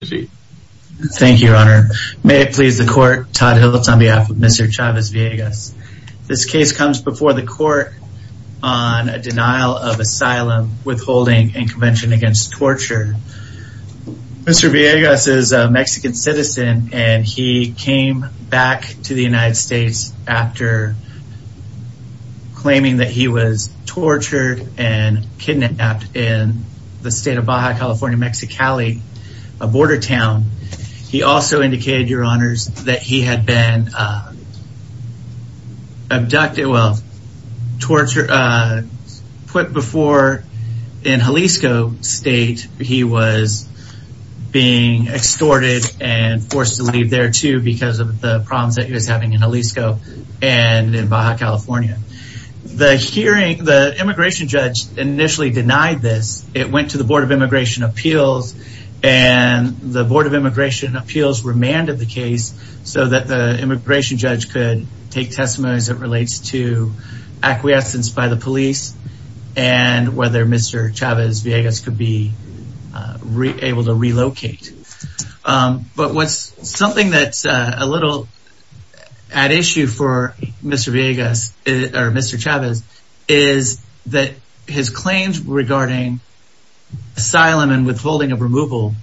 Thank you, Your Honor. May it please the court, Todd Hiltz on behalf of Mr. Chavez-Villegas. This case comes before the court on a denial of asylum, withholding, and convention against torture. Mr. Villegas is a Mexican citizen and he came back to the United States after claiming that he was tortured and kidnapped in the state of Baja California, Mexicali. A border town. He also indicated, Your Honors, that he had been abducted, well, tortured, put before in Jalisco State. He was being extorted and forced to leave there too because of the problems that he was having in Jalisco and in Baja California. The immigration judge initially denied this. It went to the Board of Immigration Appeals and the Board of Immigration Appeals remanded the case so that the immigration judge could take testimony as it relates to acquiescence by the police and whether Mr. Chavez-Villegas could be able to relocate. But what's something that's a little at issue for Mr. Chavez-Villegas is that his claims regarding asylum and withholding of removal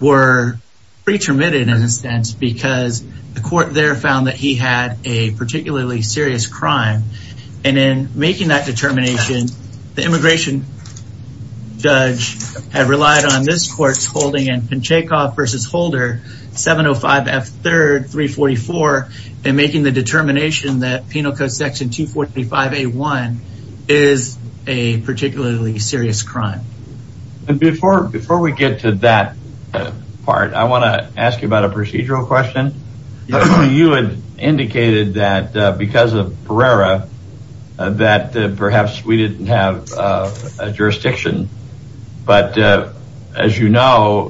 were pretty terminated in a sense because the court there found that he had a particularly serious crime. Before we get to that part, I want to ask you about a procedural question. You had indicated that because of Pereira that perhaps we didn't have a jurisdiction. But as you know,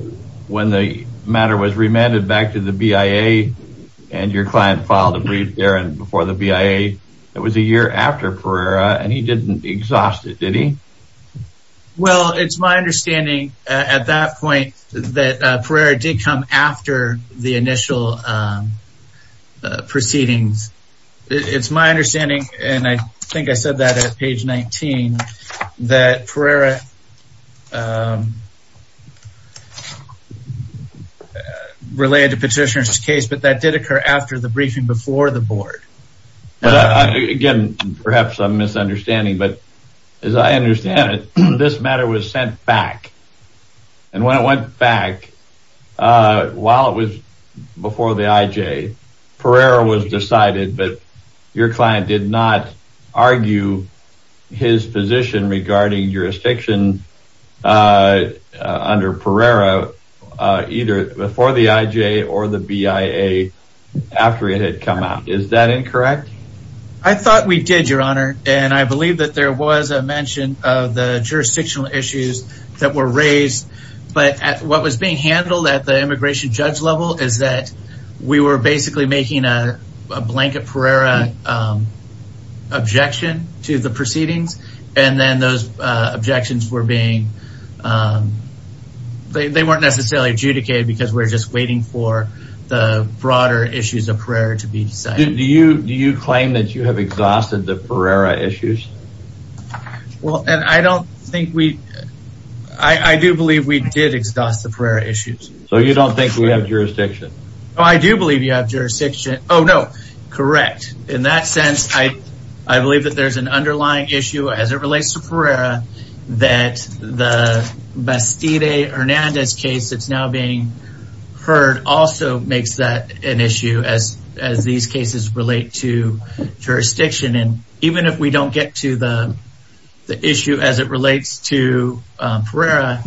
when the matter was remanded back to the BIA and your client filed a brief there before the BIA, it was a year after Pereira and he didn't exhaust it, did he? Well, it's my understanding at that point that Pereira did come after the initial proceedings. It's my understanding, and I think I said that at page 19, that Pereira relayed the petitioner's case, but that did occur after the briefing before the board. Again, perhaps I'm misunderstanding, but as I understand it, this matter was sent back. And when it went back, while it was before the IJ, Pereira was decided, but your client did not argue his position regarding jurisdiction under Pereira either before the IJ or the BIA after it had come out. Is that incorrect? I thought we did, your honor. And I believe that there was a mention of the jurisdictional issues that were raised. But what was being handled at the immigration judge level is that we were basically making a blanket Pereira objection to the proceedings. And then those objections were being, they weren't necessarily adjudicated because we're just waiting for the broader issues of Pereira to be decided. Do you claim that you have exhausted the Pereira issues? Well, and I don't think we, I do believe we did exhaust the Pereira issues. So you don't think we have jurisdiction? Oh, I do believe you have jurisdiction. Oh, no. Correct. In that sense, I believe that there's an underlying issue as it relates to Pereira that the Bastide Hernandez case that's now being heard also makes that an issue as these cases relate to jurisdiction. And even if we don't get to the issue as it relates to Pereira,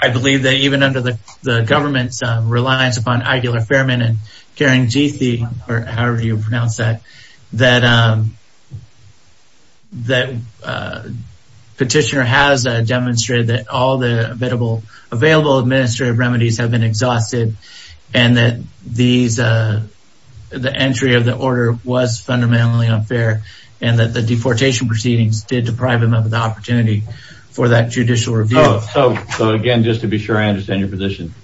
I believe that even under the government's reliance upon Aguilar-Fairman and Karangithi, or however you pronounce that, that petitioner has demonstrated that all the available administrative remedies have been exhausted and that the entry of the order was fundamentally unfair and that the deportation proceedings did deprive him of the opportunity for that judicial review. So again, just to be sure I understand your position,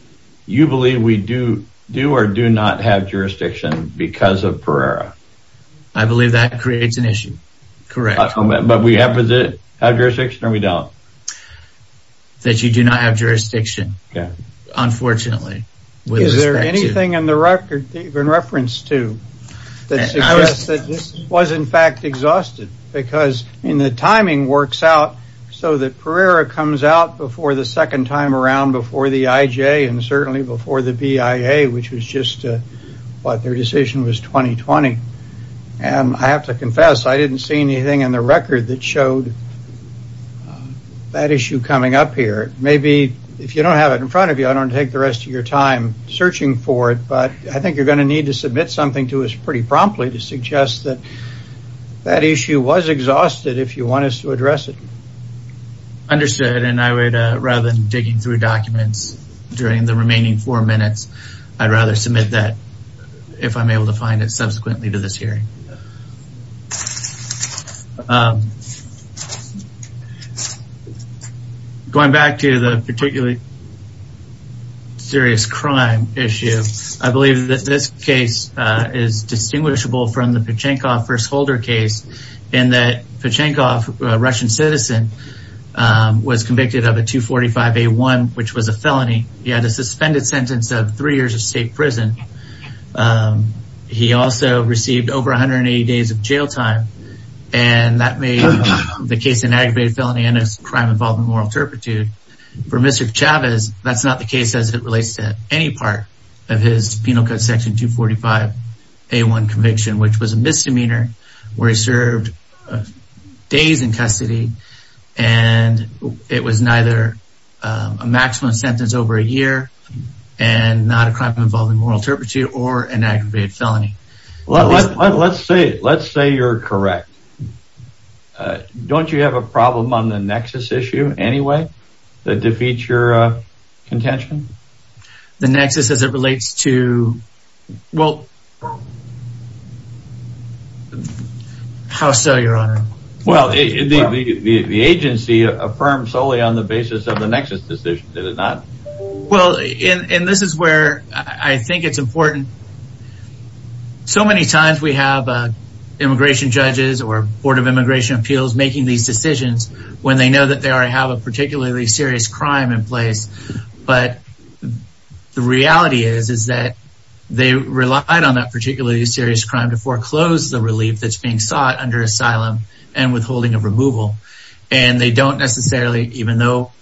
you believe we do or do not have jurisdiction because of Pereira? I believe that creates an issue. Correct. But we have jurisdiction or we don't? That you do not have jurisdiction, unfortunately. Is there anything in the record that you can reference to that suggests that this was in fact exhausted? Because the timing works out so that Pereira comes out before the second time around before the IJ and certainly before the BIA, which was just what their decision was 2020. And I have to confess I didn't see anything in the record that showed that issue coming up here. Maybe if you don't have it in front of you, I don't take the rest of your time searching for it. But I think you're going to need to submit something to us pretty promptly to suggest that that issue was exhausted if you want us to address it. Understood. And I would rather than digging through documents during the remaining four minutes, I'd rather submit that if I'm able to find it subsequently to this hearing. Going back to the particularly serious crime issue. I believe that this case is distinguishable from the Pachenkov first holder case in that Pachenkov, a Russian citizen, was convicted of a 245A1, which was a felony. He had a suspended sentence of three years of state prison. He also received over 180 days of jail time. And that made the case an aggravated felony and a crime involving moral turpitude. For Mr. Chavez, that's not the case as it relates to any part of his penal code section 245A1 conviction, which was a misdemeanor where he served days in custody. And it was neither a maximum sentence over a year and not a crime involving moral turpitude or an aggravated felony. Let's say you're correct. Don't you have a problem on the nexus issue anyway that defeats your contention? The nexus as it relates to... Well... How so, Your Honor? Well, the agency affirms solely on the basis of the nexus decision, does it not? Well, and this is where I think it's important. So many times we have immigration judges or Board of Immigration Appeals making these decisions when they know that they already have a particularly serious crime in place. But the reality is that they relied on that particularly serious crime to foreclose the relief that's being sought under asylum and withholding of removal. And they don't necessarily, even though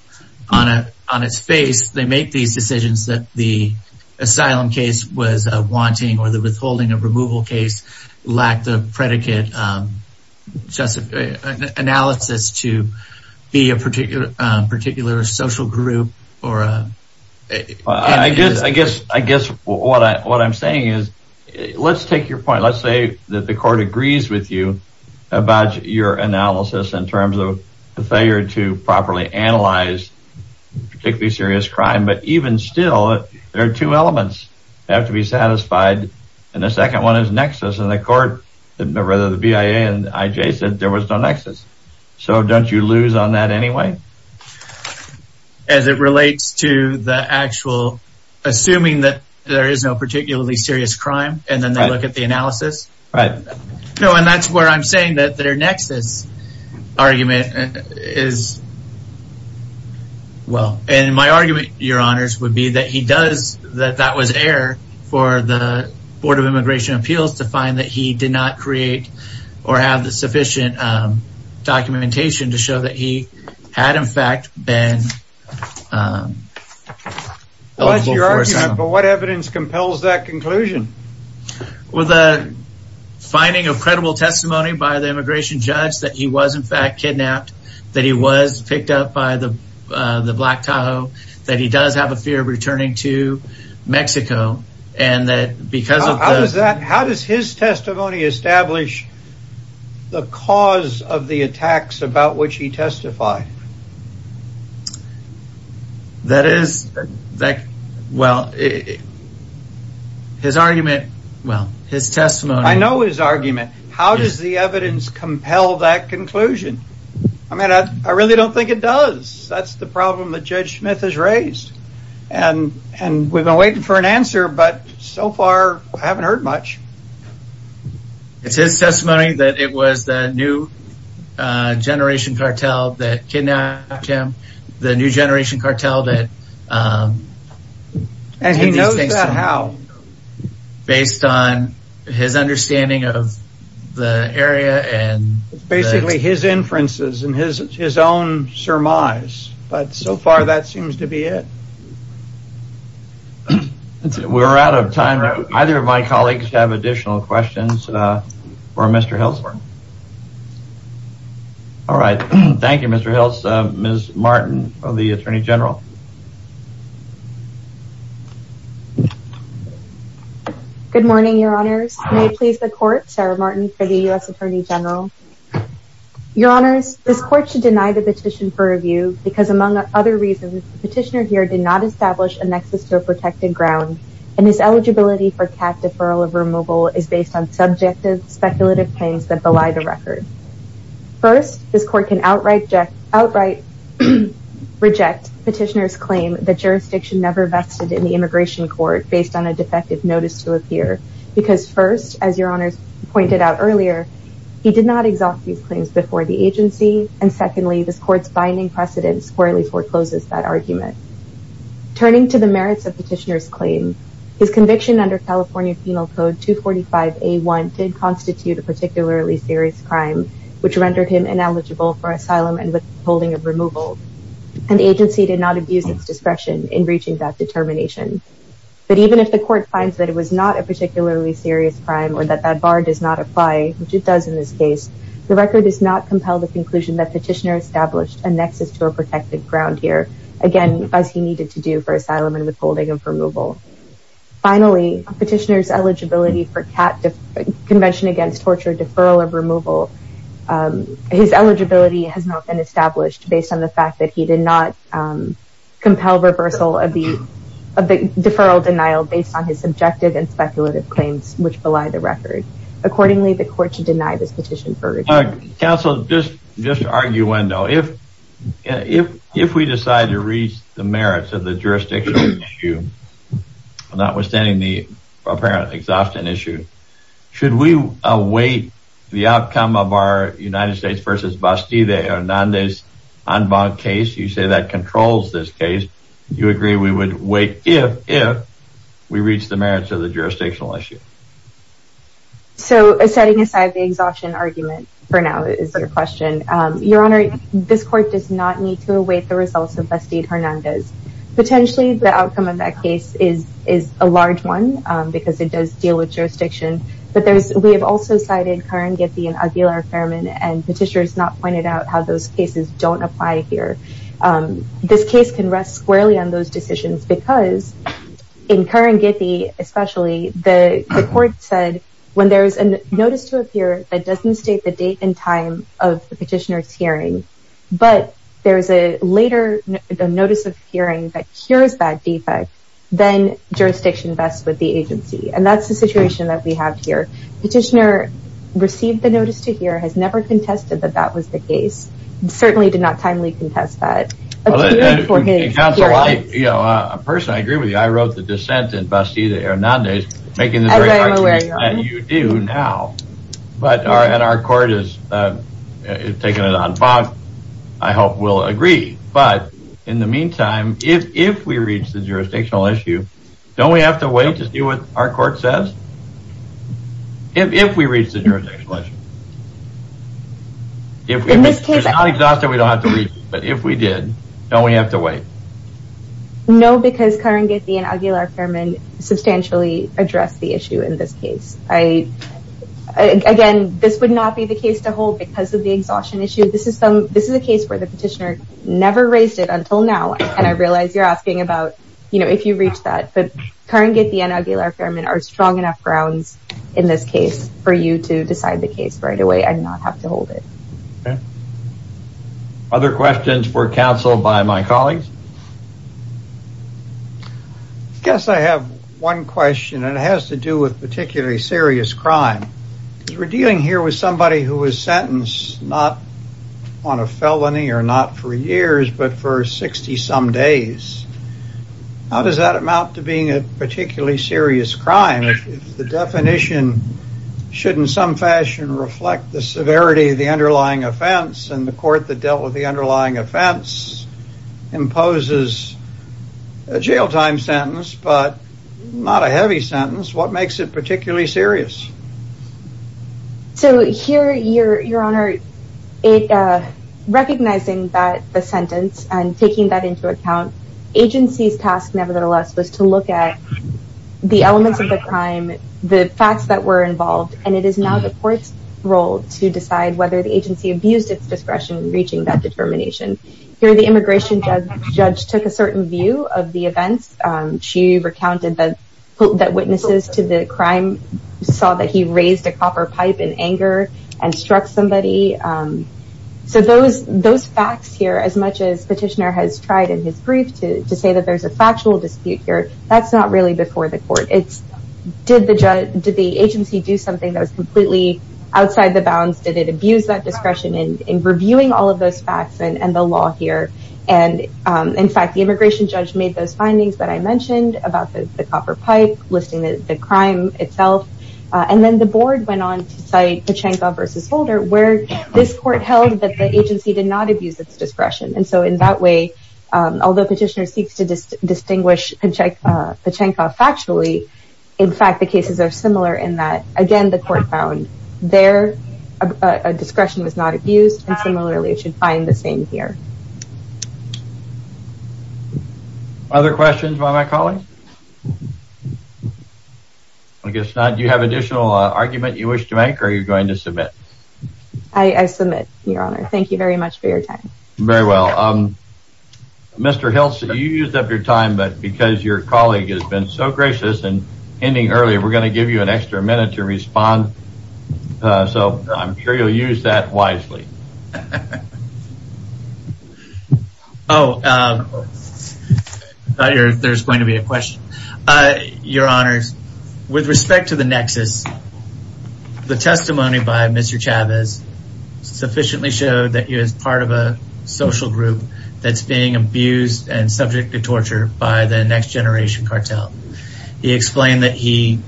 on its face, they make these decisions that the asylum case was a wanting or the withholding of removal case lacked the predicate analysis to be a particular social group or... I guess what I'm saying is, let's take your point. Let's say that the court agrees with you about your analysis in terms of the failure to properly analyze particularly serious crime. But even still, there are two elements that have to be satisfied. And the second one is nexus. And the court, rather the BIA and IJ said there was no nexus. So don't you lose on that anyway? As it relates to the actual, assuming that there is no particularly serious crime, and then they look at the analysis. Right. No, and that's where I'm saying that their nexus argument is... Well, and my argument, your honors, would be that he does, that that was air for the Board of Immigration Appeals to find that he did not create or have the sufficient documentation to show that he had in fact been... What evidence compels that conclusion? Well, the finding of credible testimony by the immigration judge that he was in fact kidnapped, that he was picked up by the Black Tahoe, that he does have a fear of returning to Mexico, and that because of... How does his testimony establish the cause of the attacks about which he testified? That is, well, his argument, well, his testimony... I know his argument. How does the evidence compel that conclusion? I mean, I really don't think it does. That's the problem that Judge Smith has raised. And we've been waiting for an answer, but so far, I haven't heard much. It's his testimony that it was the new generation cartel that kidnapped him, the new generation cartel that... And he knows that how? Based on his understanding of the area and... Basically, his inferences and his own surmise, but so far, that seems to be it. We're out of time. Either of my colleagues have additional questions for Mr. Hills. All right. Thank you, Mr. Hills. Ms. Martin of the Attorney General. Good morning, Your Honors. May it please the Court, Sarah Martin for the U.S. Attorney General. Your Honors, this Court should deny the petition for review because, among other reasons, the petitioner here did not establish a nexus to a protected ground, and his eligibility for CAF deferral of removal is based on subjective, speculative claims that belie the record. First, this Court can outright reject the petitioner's claim that jurisdiction never vested in the immigration court based on a defective notice to appear, because first, as Your Honors pointed out earlier, he did not exhaust these claims before the agency, and secondly, this Court's binding precedence squarely forecloses that argument. Turning to the merits of the petitioner's claim, his conviction under California Penal Code 245A1 did constitute a particularly serious crime, which rendered him ineligible for asylum and withholding of removal, and the agency did not abuse its discretion in reaching that determination. But even if the Court finds that it was not a particularly serious crime, or that that bar does not apply, which it does in this case, the record does not compel the conclusion that the petitioner established a nexus to a protected ground here, again, as he needed to do for asylum and withholding of removal. Finally, the petitioner's eligibility for CAT, Convention Against Torture, deferral of removal, his eligibility has not been established based on the fact that he did not compel reversal of the deferral denial based on his subjective and speculative claims, which belie the record. Accordingly, the Court should deny this petition for review. Counsel, just an arguendo. If we decide to reach the merits of the jurisdictional issue, notwithstanding the apparent exhaustion issue, should we await the outcome of our United States v. Bastida Hernández case? You say that controls this case. Do you agree we would wait if we reach the merits of the jurisdictional issue? So, setting aside the exhaustion argument, for now, is the question. Your Honor, this Court does not need to await the results of Bastida Hernández. Potentially, the outcome of that case is a large one, because it does deal with jurisdiction. But we have also cited Karangiti and Aguilar-Ferman, and petitioners have not pointed out how those cases don't apply here. This case can rest squarely on those decisions, because in Karangiti, especially, the Court said, when there's a notice to appear that doesn't state the date and time of the petitioner's hearing, but there's a later notice of hearing that cures that defect, then jurisdiction vests with the agency. And that's the situation that we have here. Petitioner received the notice to hear, has never contested that that was the case, and certainly did not timely contest that. Counsel, I personally agree with you. I wrote the dissent in Bastida Hernández, making the very argument that you do now. But our Court has taken it on bond. I hope we'll agree. But, in the meantime, if we reach the jurisdictional issue, don't we have to wait to see what our Court says? If we reach the jurisdictional issue. If we're not exhausted, we don't have to wait. But if we did, don't we have to wait? No, because Karangiti and Aguilar-Ferman substantially address the issue in this case. Again, this would not be the case to hold because of the exhaustion issue. This is a case where the petitioner never raised it until now, and I realize you're asking about, you know, if you reach that. But Karangiti and Aguilar-Ferman are strong enough grounds in this case for you to decide the case right away and not have to hold it. Other questions for counsel by my colleagues? I guess I have one question, and it has to do with particularly serious crime. We're dealing here with somebody who was sentenced not on a felony or not for years, but for 60-some days. How does that amount to being a particularly serious crime? If the definition should in some fashion reflect the severity of the underlying offense, and the Court that dealt with the underlying offense imposes a jail time sentence, but not a heavy sentence, what makes it particularly serious? So here, Your Honor, recognizing that the sentence and taking that into account, agency's task nevertheless was to look at the elements of the crime, the facts that were involved, and it is now the Court's role to decide whether the agency abused its discretion in reaching that determination. Here, the immigration judge took a certain view of the events. She recounted that witnesses to the crime saw that he raised a copper pipe in anger and struck somebody. So those facts here, as much as Petitioner has tried in his brief to say that there's a factual dispute here, that's not really before the Court. Did the agency do something that was completely outside the bounds? Did it abuse that discretion in reviewing all of those facts and the law here? In fact, the immigration judge made those findings that I mentioned about the copper pipe, listing the crime itself, and then the Board went on to cite Pachanko v. Holder, where this Court held that the agency did not abuse its discretion. And so in that way, although Petitioner seeks to distinguish Pachanko factually, in fact, the cases are similar in that, again, the Court found their discretion was not abused, and similarly should find the same here. Other questions by my colleagues? I guess not. Do you have additional argument you wish to make, or are you going to submit? I submit, Your Honor. Thank you very much for your time. Very well. Mr. Hiltz, you used up your time, but because your colleague has been so gracious in ending early, we're going to give you an extra minute to respond, so I'm sure you'll use that wisely. Oh, I thought there was going to be a question. Your Honors, with respect to the nexus, the testimony by Mr. Chavez sufficiently showed that he was part of a social group that's being abused and subject to torture by the Next Generation cartel. He explained that he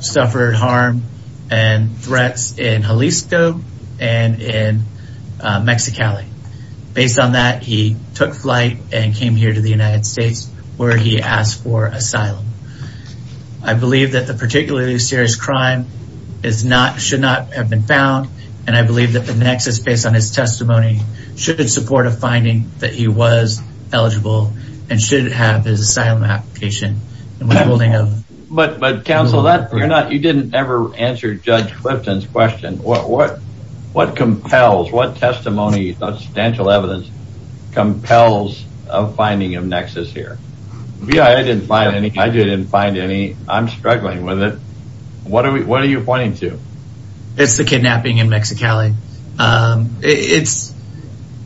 suffered harm and threats in Jalisco and in Mexicali. Based on that, he took flight and came here to the United States where he asked for asylum. I believe that the particularly serious crime should not have been found, and I believe that the nexus based on his testimony should support a finding that he was eligible and should have his asylum application. But, Counsel, you didn't ever answer Judge Clifton's question. What compels, what testimony, substantial evidence compels a finding of nexus here? I didn't find any. I'm struggling with it. What are you pointing to? It's the kidnapping in Mexicali. It's,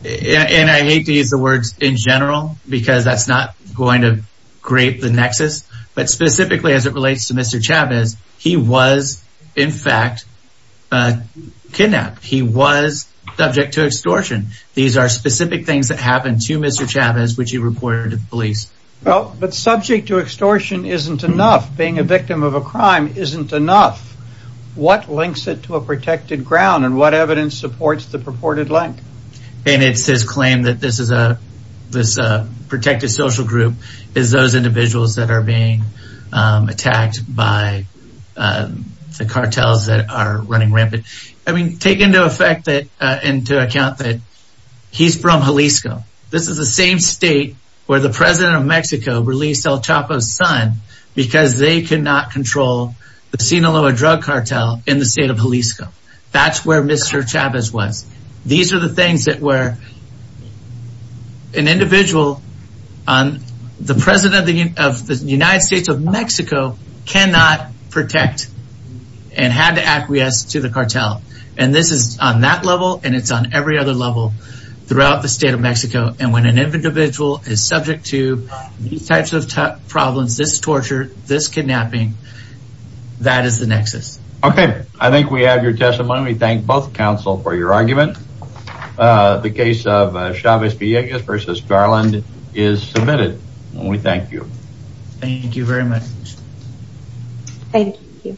and I hate to use the words, in general, because that's not going to create the nexus, but specifically as it relates to Mr. Chavez, he was, in fact, kidnapped. He was subject to extortion. These are specific things that happened to Mr. Chavez which he reported to the police. Well, but subject to extortion isn't enough. Being a victim of a crime isn't enough. What links it to a protected ground and what evidence supports the purported link? And it's his claim that this protected social group is those individuals that are being attacked by the cartels that are running rampant. I mean, take into account that he's from Jalisco. This is the same state where the president of Mexico released El Chapo's son because they cannot control the Sinaloa drug cartel in the state of Jalisco. That's where Mr. Chavez was. These are the things that were, an individual, the president of the United States of Mexico cannot protect and had to acquiesce to the cartel. And this is on that level and it's on every other level throughout the state of Mexico. And when an individual is subject to these types of problems, this torture, this kidnapping, that is the nexus. Okay. I think we have your testimony. We thank both counsel for your argument. The case of Chavez-Villegas v. Garland is submitted and we thank you. Thank you very much. Thank you.